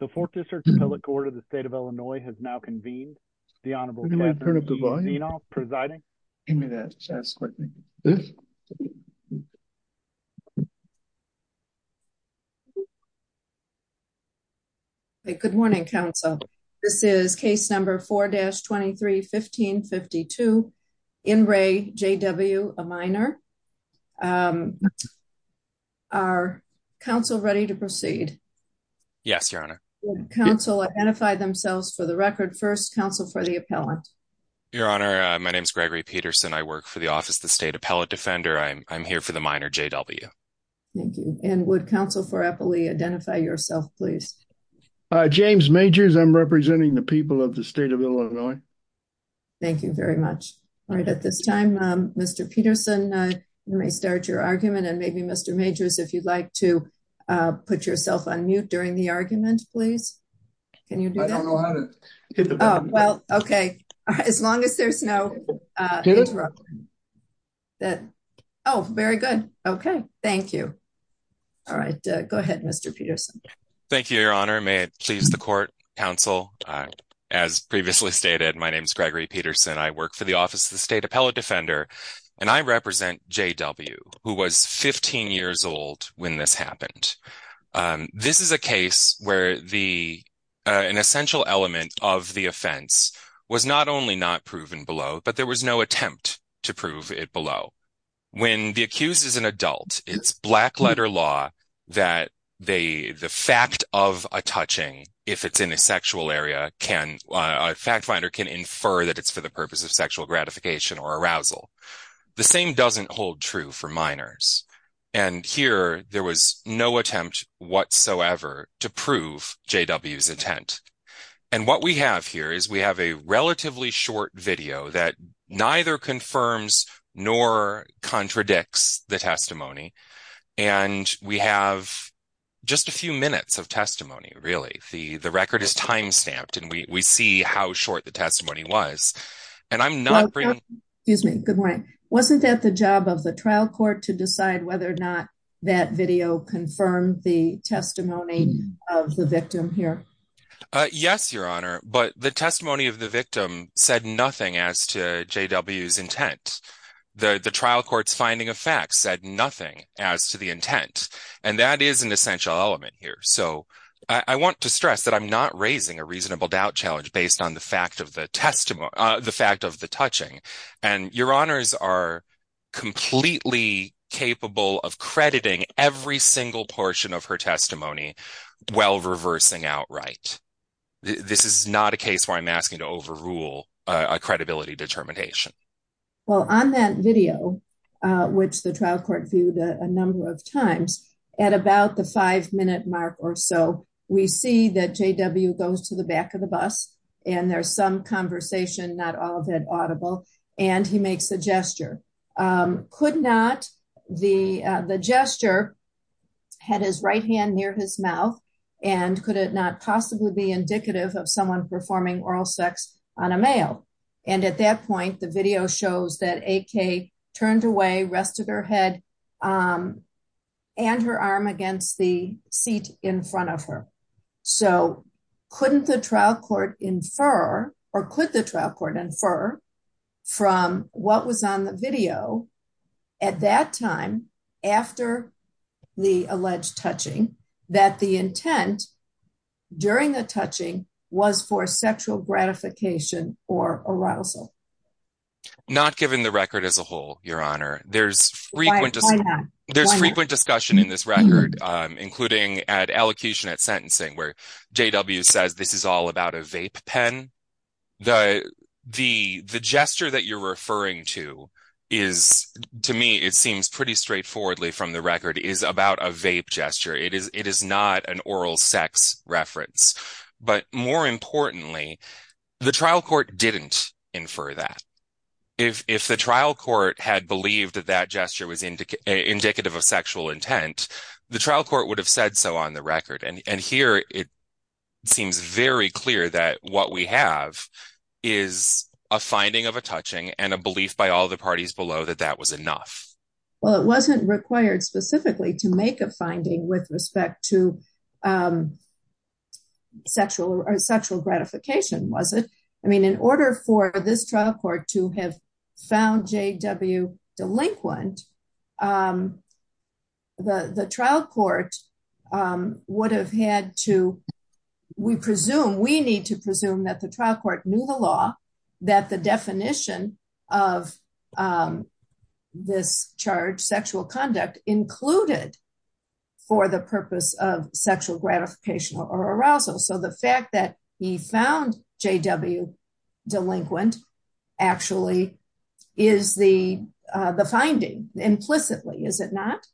The 4th district appellate court of the state of Illinois has now convened the Honorable President of the board, you know, presiding. Give me that quickly. Hey, good morning. Council. This is case number 4 dash 23, 1552. In Ray J.W. a minor. Are counsel ready to proceed? Yes, your honor counsel identify themselves for the record 1st council for the appellant. Your honor, my name is Gregory Peterson. I work for the office, the state appellate defender. I'm here for the minor J.W. Thank you and would counsel for Apple identify yourself please. James majors I'm representing the people of the state of Illinois. Thank you very much. All right at this time, Mr. Peterson may start your argument and maybe Mr. majors if you'd like to put yourself on mute during the argument, please. Can you do that? Well, okay. As long as there's no. That Oh, very good. Okay. Thank you. All right, go ahead. Mr. Peterson. Thank you. Your honor may please the court counsel as previously stated. My name is Gregory Peterson. I work for the office of the state appellate defender and I represent J.W. who was 15 years old when this happened. This is a case where the, an essential element of the offense was not only not proven below, but there was no attempt to prove it below. When the accused is an adult, it's black letter law that they, the fact of a touching, if it's in a sexual area, can a fact finder can infer that it's for the purpose of sexual gratification or arousal. The same doesn't hold true for minors and here there was no attempt whatsoever to prove J.W.'s intent. And what we have here is we have a relatively short video that neither confirms nor contradicts the testimony and we have just a few minutes of testimony. Really? The, the record is timestamped and we see how short the testimony was and I'm not. Excuse me. Good morning. Wasn't that the job of the trial court to decide whether or not that video confirmed the testimony of the victim here? Yes, Your Honor, but the testimony of the victim said nothing as to J.W.'s intent. The trial court's finding of facts said nothing as to the intent and that is an essential element here. So I want to stress that I'm not raising a reasonable doubt challenge based on the fact of the testimony, the fact of the touching and Your Honors are completely capable of crediting every single portion of her testimony while reversing outright. This is not a case where I'm asking to overrule a credibility determination. Well, on that video, which the trial court viewed a number of times at about the five minute mark or so, we see that J.W. goes to the back of the bus and there's some conversation, not all of it audible, and he makes a gesture. Could not the gesture had his right hand near his mouth and could it not possibly be indicative of someone performing oral sex on a male? And at that point, the video shows that A.K. turned away, rested her head and her arm against the seat in front of her. So couldn't the trial court infer or could the trial court infer from what was on the video at that time after the alleged touching that the intent during the touching was for sexual gratification or arousal? Not given the record as a whole, Your Honor, there's frequent there's frequent discussion in this record, including at allocution at sentencing where J.W. says this is all about a vape pen. The the the gesture that you're referring to is to me, it seems pretty straightforwardly from the record is about a vape gesture. It is it is not an oral sex reference, but more importantly, the trial court didn't infer that if the trial court had believed that that gesture was indicative of sexual intent, the trial court would have said so on the record. And here it seems very clear that what we have is a finding of a touching and a belief by all the parties below that that was enough. Well, it wasn't required specifically to make a finding with respect to sexual or sexual gratification, was it? I mean, in order for this trial court to have found J.W. delinquent, the trial court would have had to we presume we need to presume that the trial court knew the law, that the definition of this charge, sexual conduct included for the purpose of sexual gratification or arousal. So the fact that he found J.W. delinquent actually is the the finding implicitly, is it not?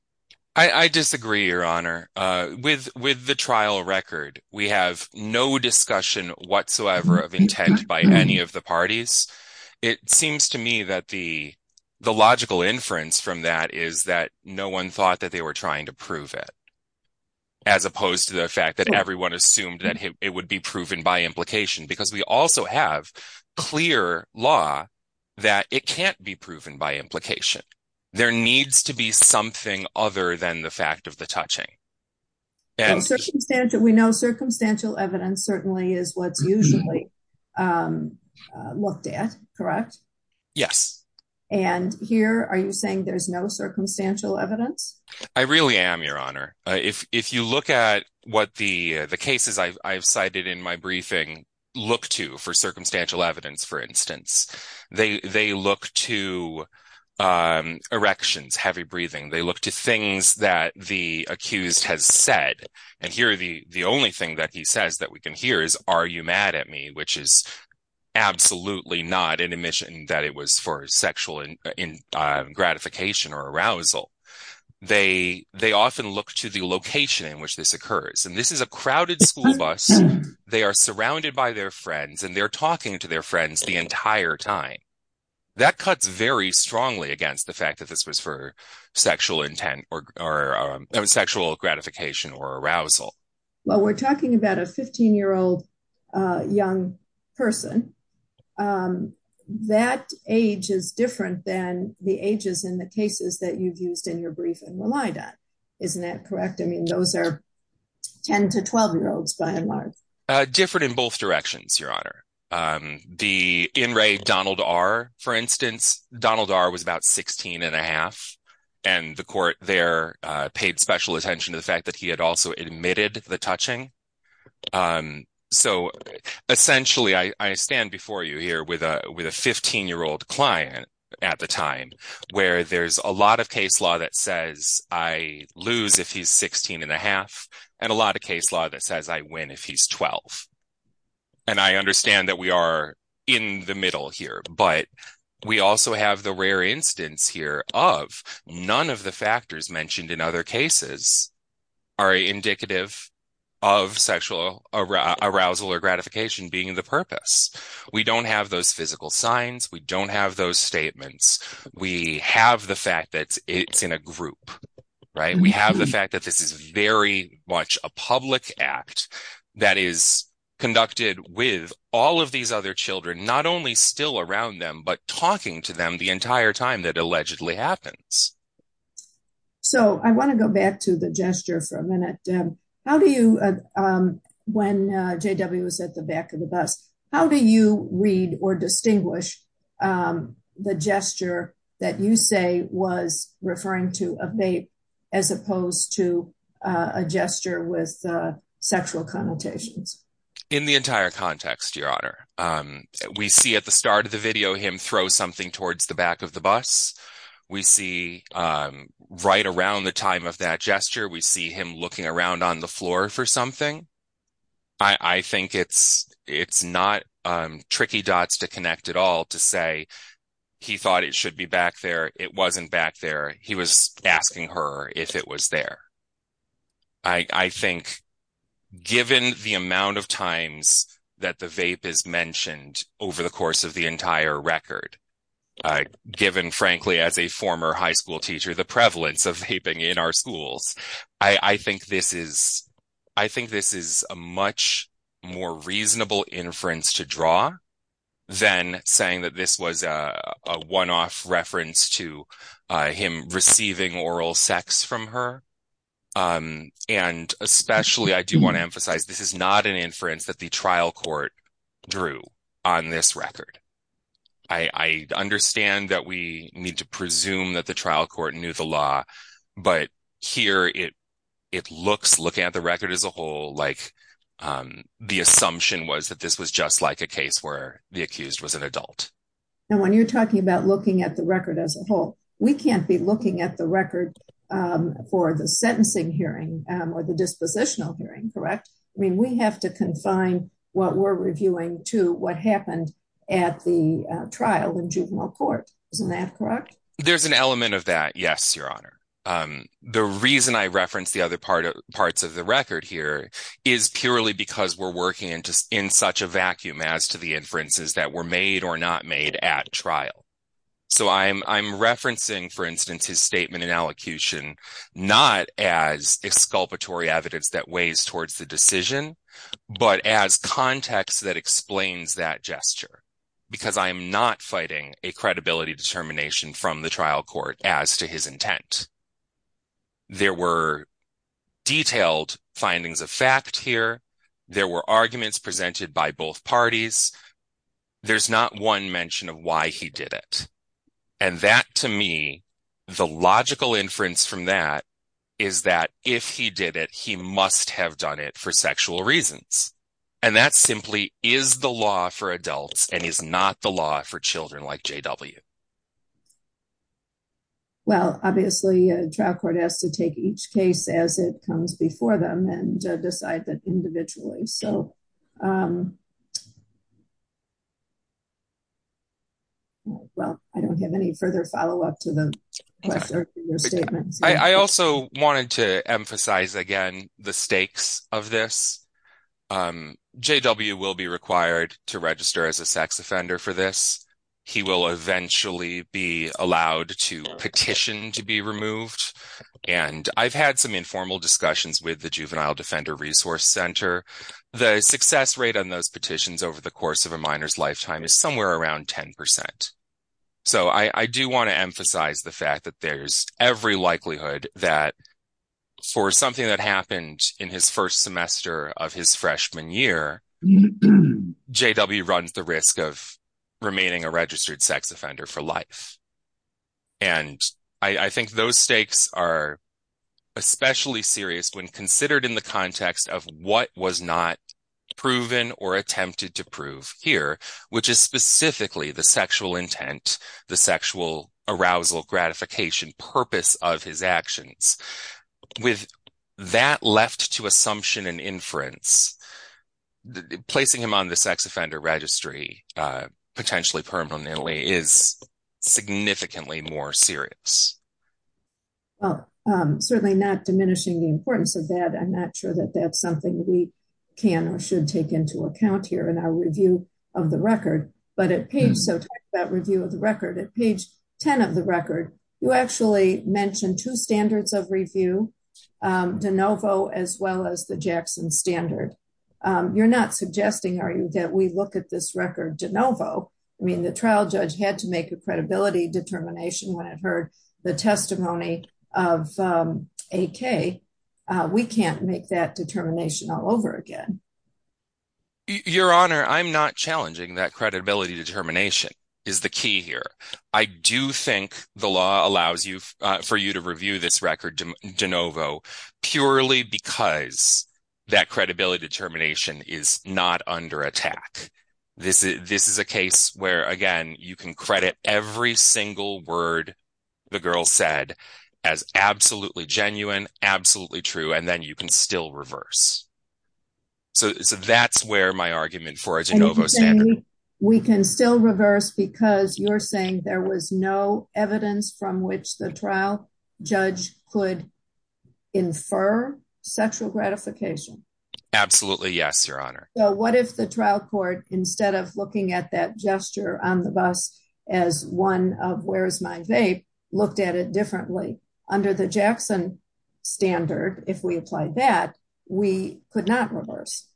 I disagree, Your Honor, with with the trial record. We have no discussion whatsoever of intent by any of the parties. It seems to me that the the logical inference from that is that no one thought that they were trying to prove it, as opposed to the fact that everyone assumed that it would be proven by implication. Because we also have clear law that it can't be proven by implication. There needs to be something other than the fact of the touching. And we know circumstantial evidence certainly is what's usually looked at, correct? Yes. And here, are you saying there's no circumstantial evidence? I really am, Your Honor. If you look at what the the cases I've cited in my briefing look to for circumstantial evidence, for instance, they look to erections, heavy breathing. They look to things that the accused has said. And here, the only thing that he says that we can hear is, are you mad at me? Which is absolutely not an admission that it was for sexual gratification or arousal. They often look to the location in which this occurs. And this is a crowded school bus. They are surrounded by their friends, and they're talking to their friends the entire time. That cuts very strongly against the fact that this was for sexual intent or sexual gratification or arousal. Well, we're talking about a 15-year-old young person. That age is different than the ages in the cases that you've used in your briefing relied on. Isn't that correct? I mean, those are 10 to 12-year-olds, by and large. Different in both directions, Your Honor. The in re Donald R., for instance, Donald R. was about 16 and a half. And the court there paid special attention to the fact that he had also admitted the touching. So essentially, I stand before you here with a 15-year-old client at the time, where there's a lot of case law that says I lose if he's 16 and a half, and a lot of case law that says I win if he's 12. And I understand that we are in the middle here. But we also have the rare instance here of none of the factors mentioned in other cases are indicative of sexual arousal or gratification being the purpose. We don't have those physical signs. We don't have those statements. We have the fact that it's in a group, right? We have the fact that this is very much a public act that is conducted with all of these other children, not only still around them, but talking to them the entire time that allegedly happens. So I want to go back to the gesture for a minute. How do you, when JW was at the back of the bus, how do you read or distinguish the gesture that you say was referring to a babe as opposed to a gesture with sexual connotations? In the entire context, Your Honor. We see at the start of the video him throw something towards the back of the bus. We see right around the time of that gesture, we see him looking around on the floor for something. I think it's not tricky dots to connect at all to say, he thought it should be back there. It wasn't back there. He was asking her if it was there. I think given the amount of times that the vape is mentioned over the course of the entire record, given, frankly, as a former high school teacher, the prevalence of vaping in our schools, I think this is a much more reasonable inference to draw than saying that this was a one-off reference to him receiving oral sex from her. Especially, I do want to emphasize, this is not an inference that the trial court drew on this record. I understand that we need to presume that the trial court knew the law, but here it looks, looking at the record as a whole, the assumption was that this was just like a case where the accused was an adult. When you're talking about looking at the record as a whole, we can't be looking at the record for the sentencing hearing or the dispositional hearing, correct? We have to confine what we're reviewing to what happened at the trial in juvenile court. Isn't that correct? There's an element of that, yes, Your Honor. The reason I referenced the other parts of the record here is purely because we're working in such a vacuum as to the inferences that were made or not made at trial. So, I'm referencing, for instance, his statement in allocution, not as exculpatory evidence that weighs towards the decision, but as context that explains that gesture, because I'm not fighting a credibility determination from the trial court as to his intent. There were detailed findings of fact here. There were arguments presented by both parties. There's not one mention of why he did it. And that, to me, the logical inference from that is that if he did it, he must have done it for sexual reasons. And that simply is the law for adults and is not the law for children like J.W. Well, obviously, trial court has to take each case as it comes before them and decide that individually. So, well, I don't have any further follow-up to your statements. I also wanted to emphasize, again, the stakes of this. J.W. will be required to register as a sex offender for this. He will eventually be allowed to petition to be removed. And I've had some informal discussions with the Juvenile Defender Resource Center. The success rate on those petitions over the course of a minor's lifetime is somewhere around 10%. So, I do want to emphasize the fact that there's every likelihood that for something that happened in his first semester of his freshman year, J.W. runs the risk of remaining a registered sex offender for life. And I think those stakes are especially serious when considered in the context of what was not proven or attempted to prove here, which is specifically the sexual intent, the sexual arousal, gratification, purpose of his actions. With that left to assumption and inference, placing him on the sex offender registry potentially permanently is significantly more serious. Well, certainly not diminishing the importance of that. I'm not sure that that's something we can or should take into account here in our review of the record. But at page 10 of the record, you actually mention two standards of review, De Novo as well as the Jackson Standard. You're not suggesting, are you, that we look at this record De Novo? I mean, the trial judge had to make a credibility determination when it heard the testimony of A.K. We can't make that determination all over again. Your Honor, I'm not challenging that credibility determination is the key here. I do think the law allows you for you to review this record De Novo purely because that credibility determination is not under attack. This is a case where, again, you can credit every single word the girl said as absolutely genuine, absolutely true, and then you can still reverse. So that's where my argument for a De Novo standard. We can still reverse because you're saying there was no evidence from which the trial judge could infer sexual gratification? Absolutely, yes, Your Honor. So what if the trial court, instead of looking at that gesture on the bus as one of where's my vape, looked at it differently? Under the Jackson Standard, if we applied that, we could not reverse.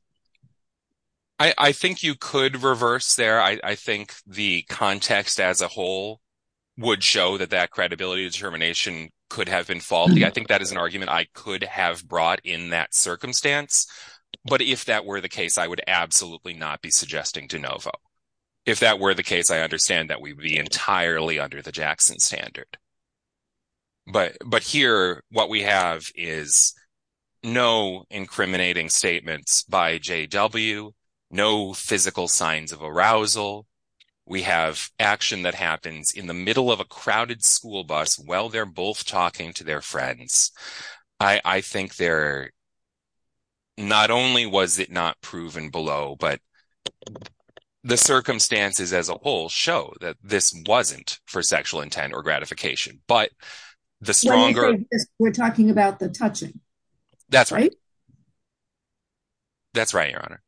I think you could reverse there. I think the context as a whole would show that that credibility determination could have been faulty. I think that is an argument I could have brought in that circumstance. But if that were the case, I would absolutely not be suggesting De Novo. If that were the case, I understand that we would be entirely under the Jackson Standard. But here, what we have is no incriminating statements by JW, no physical signs of arousal. We have action that happens in the middle of a crowded school bus while they're both talking to their friends. I think there not only was it not proven below, but the circumstances as a whole show that this wasn't for sexual intent or gratification. But the stronger— We're talking about the touching. That's right. That's right, Your Honor.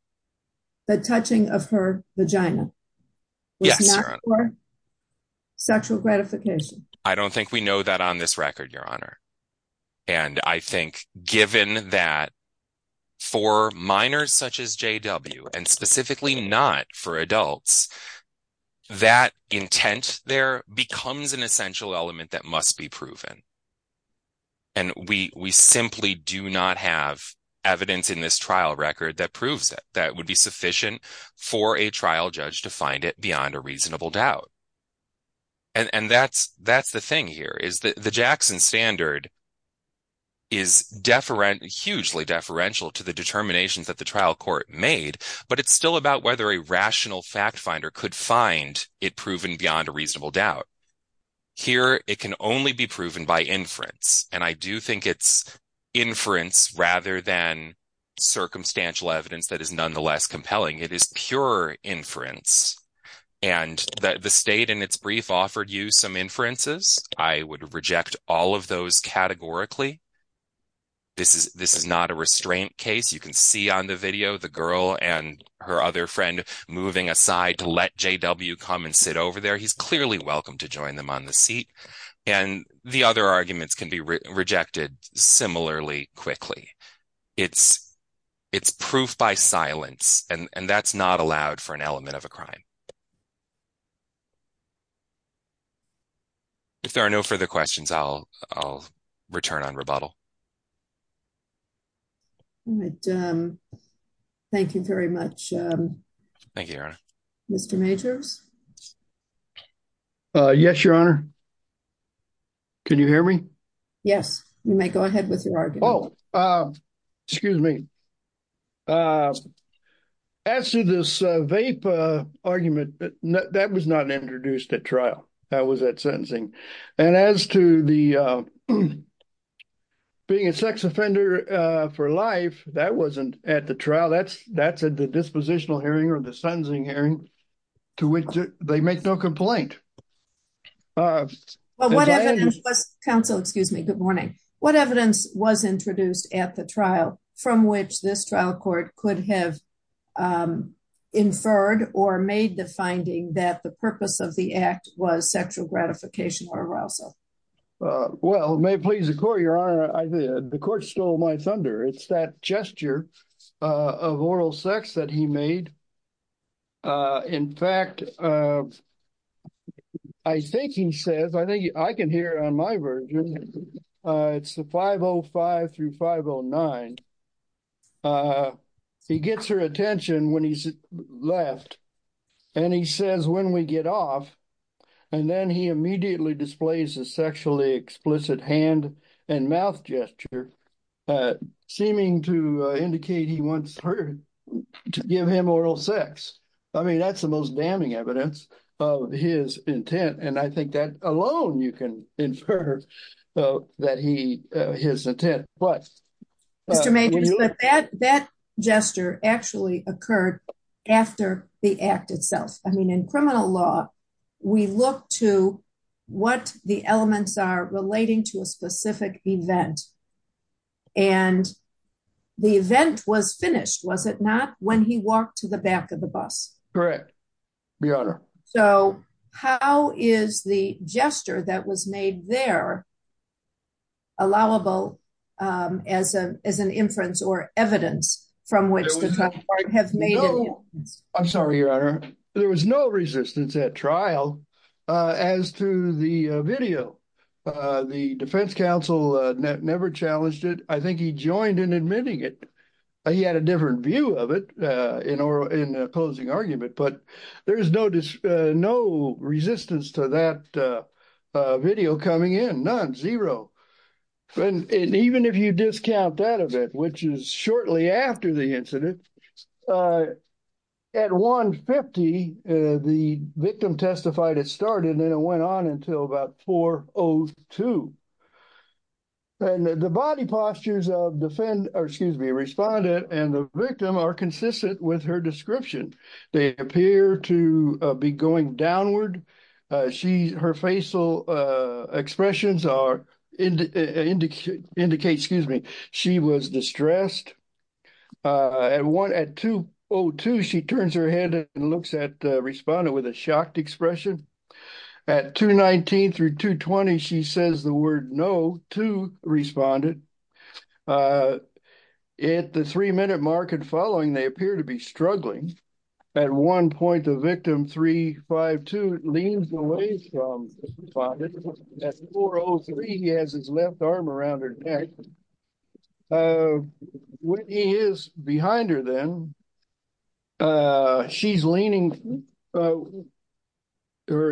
The touching of her vagina was not for sexual gratification. I don't think we know that on this record, Your Honor. And I think given that for minors such as JW and specifically not for adults, that intent there becomes an essential element that must be proven. And we simply do not have evidence in this trial record that proves that that would be sufficient for a trial judge to find it beyond a reasonable doubt. And that's the thing here, is that the Jackson Standard is hugely deferential to the determinations that the trial court made, but it's still about whether a rational fact finder could find it proven beyond a reasonable doubt. Here, it can only be proven by inference. And I do think it's inference rather than circumstantial evidence that is nonetheless compelling. It is pure inference. And the state in its brief offered you some inferences. I would reject all of those categorically. This is not a restraint case. You can see on the video the girl and her other friend moving aside to let JW come and sit over there. He's clearly welcome to join them on the seat. And the other arguments can be rejected similarly quickly. It's proof by silence. And that's not allowed for an element of a crime. If there are no further questions, I'll return on rebuttal. Thank you very much. Thank you, Your Honor. Mr. Majors? Yes, Your Honor. Can you hear me? Yes. You may go ahead with your argument. Oh, excuse me. As to this vape argument, that was not introduced at trial. That was at sentencing. And as to the being a sex offender for life, that wasn't at the trial. That's at the dispositional hearing or the sentencing hearing, to which they make no complaint. Counsel, excuse me. Good morning. What evidence was introduced at the trial from which this trial court could have inferred or made the finding that the purpose of the act was sexual gratification or arousal? Well, may it please the court, Your Honor, the court stole my thunder. It's that gesture of oral sex that he made. In fact, I think he says, I think I can hear on my version, it's the 505 through 509. He gets her attention when he's left, and he says, when we get off, and then he immediately displays a sexually explicit hand and mouth gesture, seeming to indicate he wants her to give him oral sex. I mean, that's the most damning evidence of his intent. And I think that alone, you can infer that he his intent. But Mr. That gesture actually occurred after the act itself. I mean, in criminal law, we look to what the elements are relating to a specific event. And the event was finished, was it not when he walked to the back of the bus? Correct, Your Honor. So how is the gesture that was made there allowable as an inference or evidence from which the court have made? I'm sorry, Your Honor. There was no resistance at trial. As to the video, the defense counsel never challenged it. I think he joined in admitting it. He had a different view of it in opposing argument. But there is no resistance to that video coming in, none, zero. And even if you discount that event, which is shortly after the incident, at 150, the started, then it went on until about 402. And the body postures of defendant, excuse me, respondent and the victim are consistent with her description. They appear to be going downward. Her facial expressions are indicate, excuse me, she was distressed. At 202, she turns her head and looks at respondent with a shocked expression. At 219 through 220, she says the word no to respondent. At the three-minute mark and following, they appear to be struggling. At one point, the victim, 352, leans away from respondent. At 403, he has his left arm around her neck. He is behind her then. She's leaning her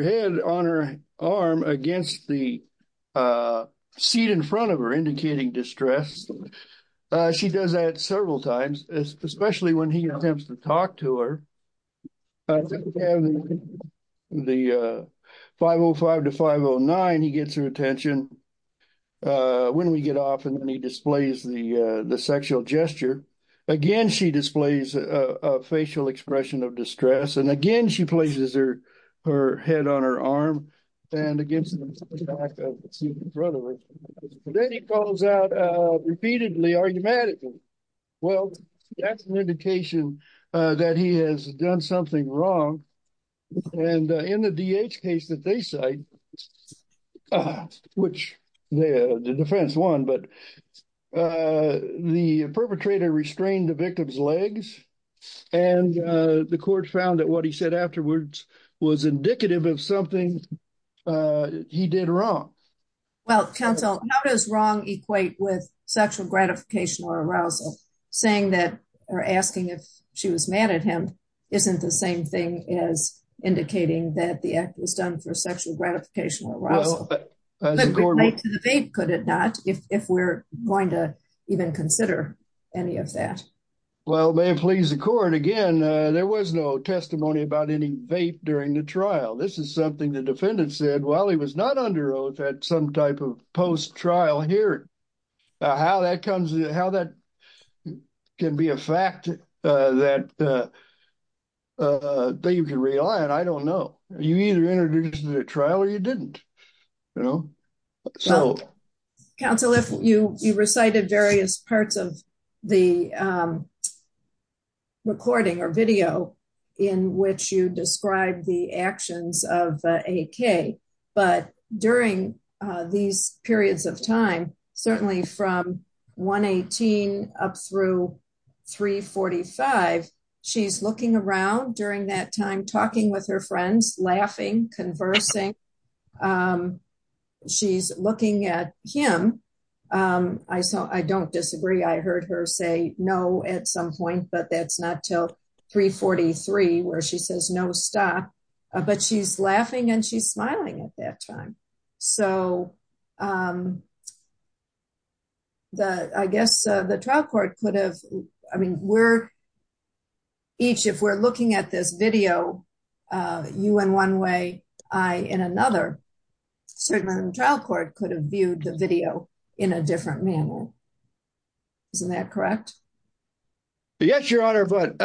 head on her arm against the seat in front of her, indicating distress. She does that several times, especially when he attempts to talk to her. The 505 to 509, he gets her attention. And when we get off, and then he displays the sexual gesture. Again, she displays a facial expression of distress. And again, she places her head on her arm and against the seat in front of her. Then he calls out repeatedly, argumentatively, well, that's an indication that he has done something wrong. And in the DH case that they cite, which the defense won, but the perpetrator restrained the victim's legs. And the court found that what he said afterwards was indicative of something he did wrong. Well, counsel, how does wrong equate with sexual gratification or arousal? Saying that, or asking if she was mad at him, isn't the same thing as indicating that the act was done for sexual gratification or arousal. Well, as the court would- But to the vape, could it not, if we're going to even consider any of that? Well, may it please the court, again, there was no testimony about any vape during the trial. This is something the defendant said while he was not under oath at some type of post trial hearing. How that comes, how that can be a fact that you can rely on, I don't know. You either entered into the trial or you didn't. Counsel, you recited various parts of the recording or video in which you describe the actions of AK. But during these periods of time, certainly from 118 up through 345, she's looking around during that time, talking with her friends, laughing, conversing. She's looking at him. I don't disagree. I heard her say no at some point, but that's not till 343 where she says no, stop. But she's laughing and she's smiling at that time. So I guess the trial court could have, I mean, we're each, if we're looking at this video, you in one way, I in another, certainly the trial court could have viewed the video in a different manner. Isn't that correct? Yes, Your Honor. But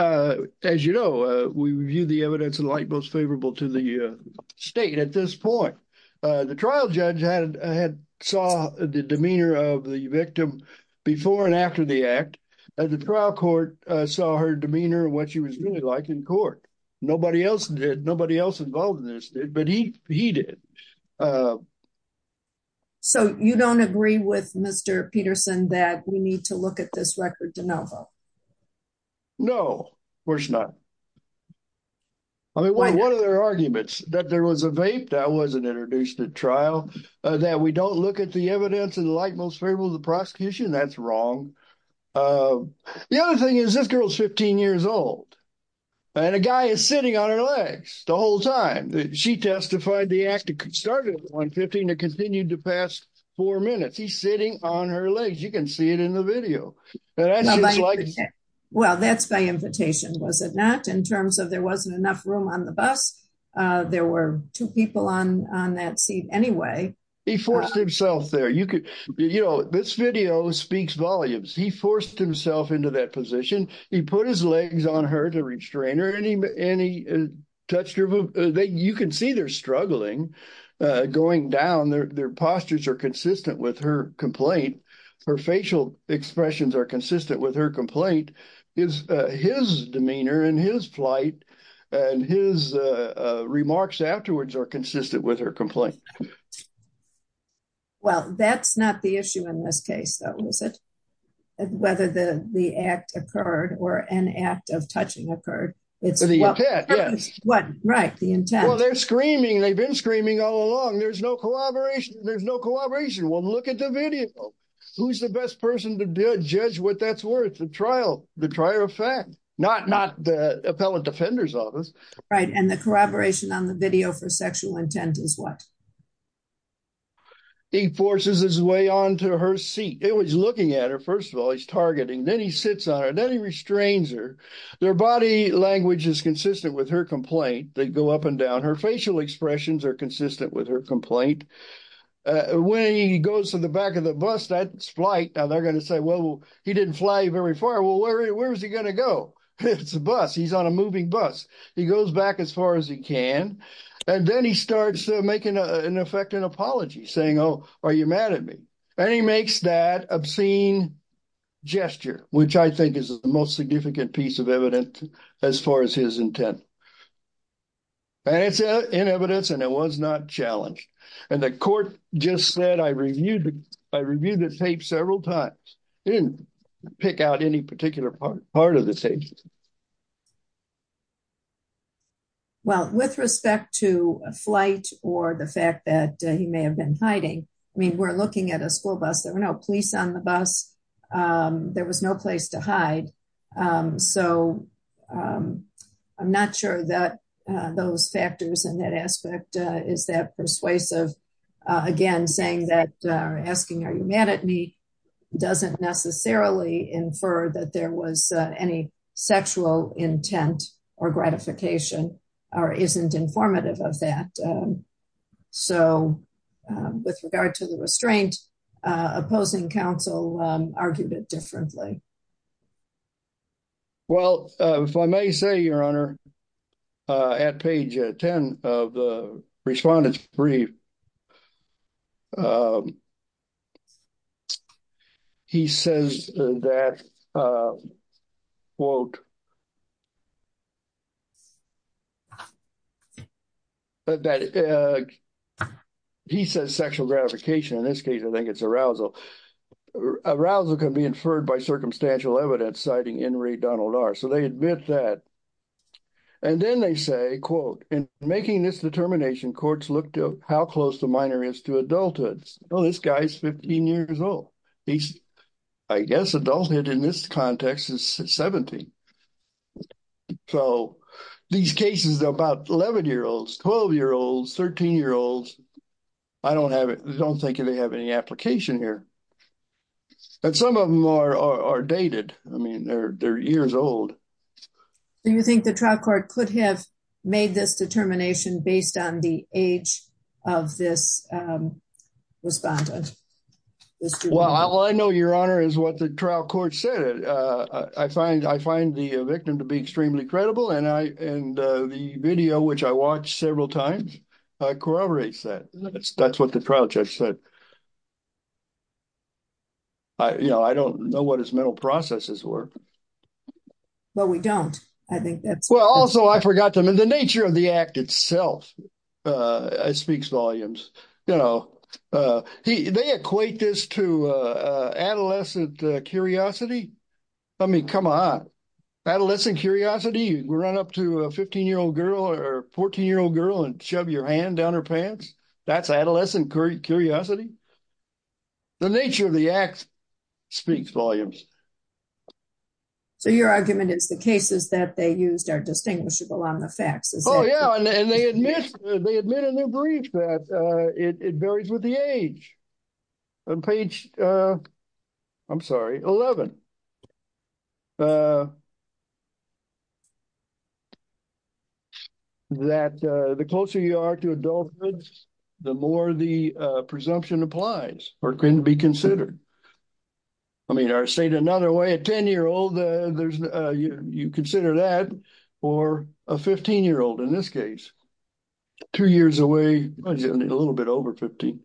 as you know, we view the evidence in light most favorable to the state at this point. The trial judge had saw the demeanor of the victim before and after the act, and the trial court saw her demeanor and what she was really like in court. Nobody else did. Nobody else involved in this did, but he did. So you don't agree with Mr. Peterson that we need to look at this record de novo? No, of course not. I mean, one of their arguments that there was a vape that wasn't introduced at trial, that we don't look at the evidence in the light most favorable to the prosecution. That's wrong. The other thing is this girl is 15 years old and a guy is sitting on her legs the whole time. She testified the act started at 115 and continued to pass four minutes. He's sitting on her legs. You can see it in the video. Well, that's by invitation, was it not? In terms of there wasn't enough room on the bus, there were two people on that seat anyway. He forced himself there. This video speaks volumes. He forced himself into that position. He put his legs on her to restrain her and he touched her. You can see they're struggling going down. Their postures are consistent with her complaint. Her facial expressions are consistent with her complaint. His demeanor and his flight and his remarks afterwards are consistent with her complaint. Well, that's not the issue in this case, though, is it? Whether the act occurred or an act of touching occurred. It's the intent, yes. What? Right. The intent. Well, they're screaming. They've been screaming all along. There's no collaboration. There's no collaboration. Well, look at the video. Who's the best person to judge what that's worth? The trial. The trial of fact. Not the appellant defender's office. Right. And the corroboration on the video for sexual intent is what? He forces his way onto her seat. He's looking at her. First of all, he's targeting. Then he sits on her. Then he restrains her. Their body language is consistent with her complaint. They go up and down. Her facial expressions are consistent with her complaint. When he goes to the back of the bus, that's flight. Now, they're going to say, well, he didn't fly very far. Well, where is he going to go? It's a bus. He's on a moving bus. He goes back as far as he can. And then he starts making an effective apology, saying, oh, are you mad at me? And he makes that obscene gesture, which I think is the most significant piece of evidence as far as his intent. And it's in evidence, and it was not challenged. And the court just said, I reviewed the tape several times. It didn't pick out any particular part of the tape. Well, with respect to flight or the fact that he may have been hiding, I mean, we're looking at a school bus. There were no police on the bus. There was no place to hide. So I'm not sure that those factors and that aspect is that persuasive. Again, saying that or asking, are you mad at me, doesn't necessarily infer that there was any sexual intent or gratification or isn't informative of that. So with regard to the restraint, opposing counsel argued it differently. Well, if I may say, Your Honor, at page 10 of the respondent's brief, he says that, quote, he says sexual gratification. In this case, I think it's arousal. Arousal can be inferred by circumstantial evidence, citing In re Donald R. So they admit that. And then they say, quote, Well, this guy's 15 years old. He's, I guess, adulthood in this context is 70. So these cases are about 11 year olds, 12 year olds, 13 year olds. I don't have it. I don't think they have any application here. But some of them are dated. I mean, they're years old. Do you think the trial court could have made this determination based on the age of this respondent? Well, I know, Your Honor, is what the trial court said. I find the victim to be extremely credible. And the video, which I watched several times, corroborates that. That's what the trial judge said. I don't know what his mental processes were. Well, we don't. I think that's well. Also, I forgot them in the nature of the act itself. It speaks volumes. You know, they equate this to adolescent curiosity. I mean, come on, adolescent curiosity. You run up to a 15 year old girl or 14 year old girl and shove your hand down her pants. That's adolescent curiosity. The nature of the act speaks volumes. So your argument is the cases that they used are distinguishable on the facts. Oh, yeah. And they admit in their brief that it varies with the age. On page, I'm sorry, 11. That the closer you are to adulthood, the more the presumption applies or can be considered. I mean, I stayed another way, a 10 year old. You consider that or a 15 year old in this case. Two years away, a little bit over 15.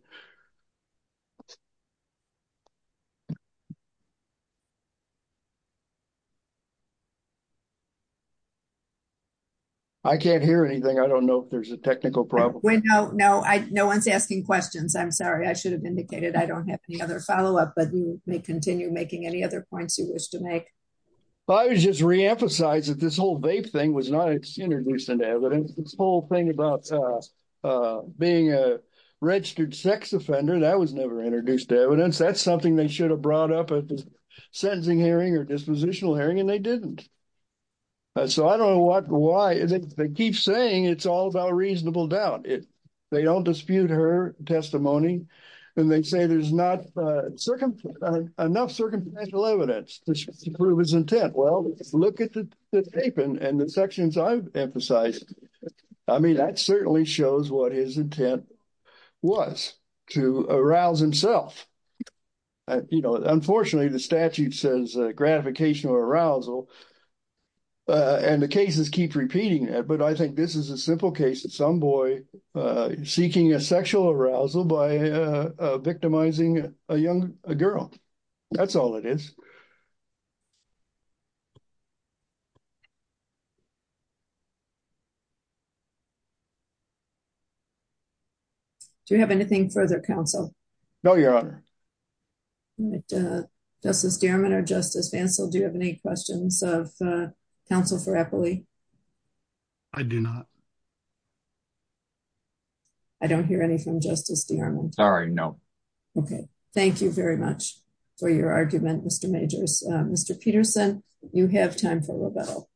I can't hear anything. I don't know if there's a technical problem. No one's asking questions. I'm sorry. I should have indicated. I don't have any other follow up, but you may continue making any other points you wish to make. But I was just reemphasized that this whole vape thing was not introduced into evidence. This whole thing about being a registered sex offender, that was never introduced to evidence. That's something they should have brought up at the sentencing hearing or dispositional hearing, and they didn't. So I don't know why they keep saying it's all about reasonable doubt. They don't dispute her testimony. And they say there's not enough circumstantial evidence to prove his intent. Well, look at the tape and the sections I've emphasized. I mean, that certainly shows what his intent was to arouse himself. Unfortunately, the statute says gratification or arousal. And the cases keep repeating it. I think this is a simple case of some boy seeking a sexual arousal by victimizing a girl. That's all it is. Do you have anything further, counsel? No, Your Honor. Justice Dierman or Justice Vancell, do you have any questions of counsel for Eppley? I do not. I don't hear any from Justice Dierman. Sorry, no. Okay. Thank you very much for your argument, Mr. Majors. Mr. Peterson, you have time for rebuttal.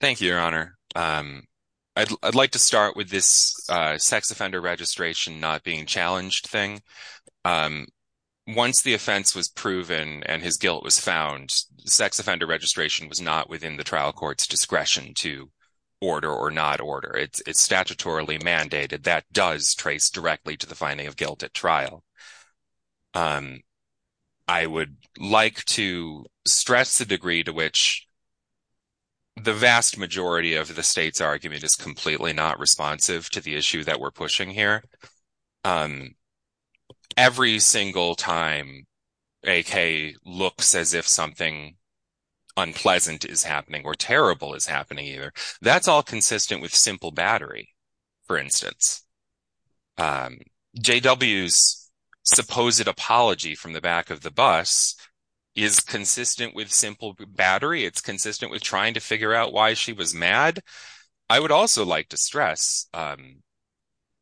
Thank you, Your Honor. I'd like to start with this sex offender registration not being challenged thing. Once the offense was proven and his guilt was found, sex offender registration was not in the trial court's discretion to order or not order. It's statutorily mandated. That does trace directly to the finding of guilt at trial. I would like to stress the degree to which the vast majority of the state's argument is completely not responsive to the issue that we're pushing here. Every single time AK looks as if something unpleasant is happening or terrible is happening, either, that's all consistent with simple battery, for instance. JW's supposed apology from the back of the bus is consistent with simple battery. It's consistent with trying to figure out why she was mad. I would also like to stress, and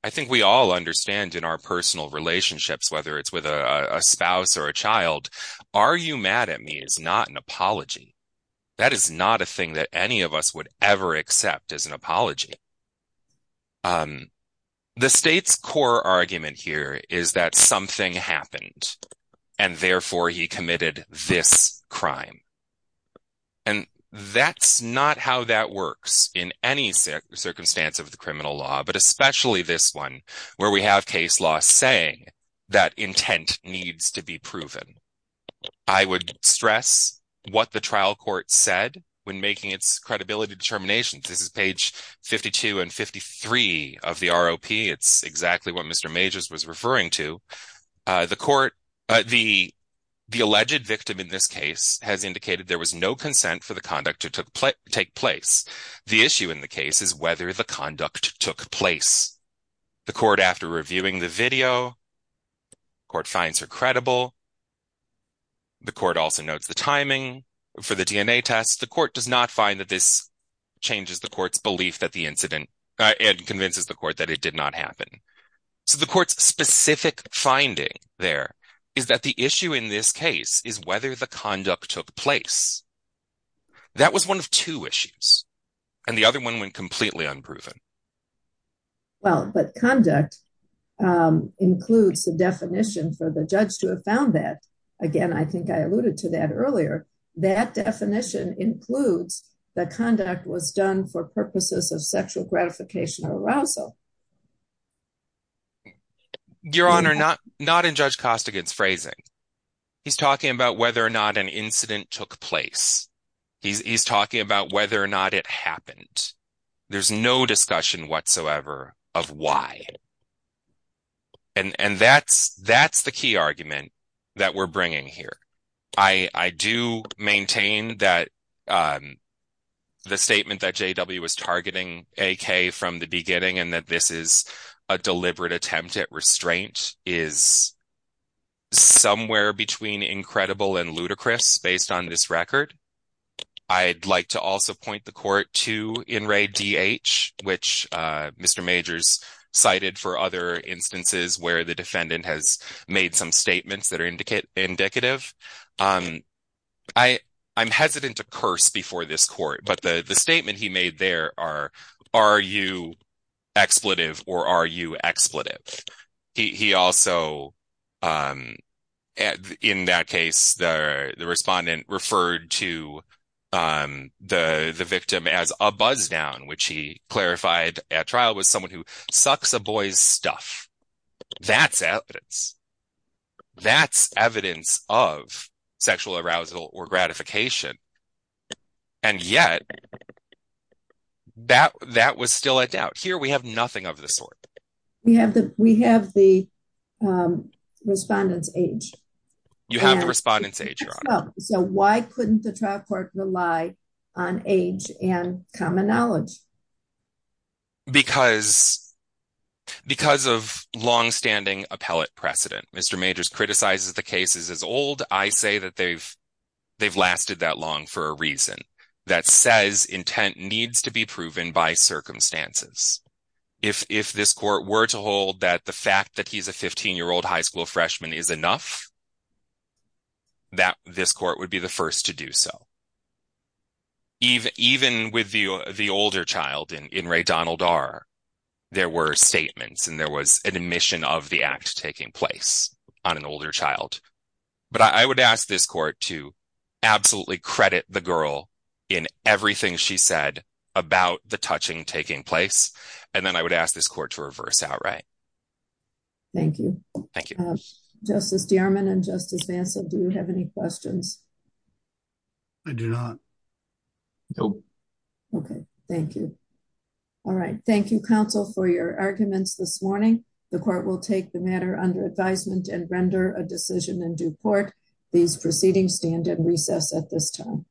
I think we all understand in our personal relationships, whether it's with a spouse or a child, are you mad at me is not an apology. That is not a thing that any of us would ever accept as an apology. The state's core argument here is that something happened and therefore he committed this crime. And that's not how that works in any circumstance of the criminal law, but especially this one where we have case law saying that intent needs to be proven. I would stress what the trial court said when making its credibility determinations. This is page 52 and 53 of the ROP. It's exactly what Mr. Majors was referring to. The court, the alleged victim in this case has indicated there was no consent for the conduct to take place. The issue in the case is whether the conduct took place. The court, after reviewing the video, the court finds her credible. The court also notes the timing for the DNA test. The court does not find that this changes the court's belief that the incident, and convinces the court that it did not happen. So the court's specific finding there is that the issue in this case is whether the conduct took place. That was one of two issues. And the other one went completely unproven. Well, but conduct includes the definition for the judge to have found that. Again, I think I alluded to that earlier. That definition includes the conduct was done for purposes of sexual gratification or arousal. Your Honor, not in Judge Costigan's phrasing. He's talking about whether or not an incident took place. He's talking about whether or not it happened. There's no discussion whatsoever of why. And that's the key argument that we're bringing here. I do maintain that the statement that JW was targeting AK from the beginning, and that this is a deliberate attempt at restraint, is somewhere between incredible and ludicrous based on this record. I'd like to also point the court to In re DH, which Mr. Majors cited for other instances where the defendant has made some statements that are indicative. I'm hesitant to curse before this court, but the statement he made there are, are you expletive or are you expletive? He also, in that case, the respondent referred to the victim as a buzz down, which he clarified at trial was someone who sucks a boy's stuff. That's evidence. That's evidence of sexual arousal or gratification. And yet that, that was still a doubt here. We have nothing of the sort. We have the, we have the respondent's age. You have the respondent's age. So why couldn't the trial court rely on age and common knowledge? Because, because of longstanding appellate precedent, Mr. Majors criticizes the cases as old. I say that they've, they've lasted that long for a reason. That says intent needs to be proven by circumstances. If, if this court were to hold that the fact that he's a 15 year old high school freshman is enough, that this court would be the first to do so. Even with the, the older child in re DH, there were statements and there was an admission of the act taking place on an older child. But I would ask this court to absolutely credit the girl in everything she said about the touching taking place. And then I would ask this court to reverse outright. Thank you. Thank you. Justice Dierman and Justice Manson, do you have any questions? I do not. Nope. Okay. Thank you. All right. Thank you counsel for your arguments this morning. The court will take the matter under advisement and render a decision in due court. These proceedings stand at recess at this time.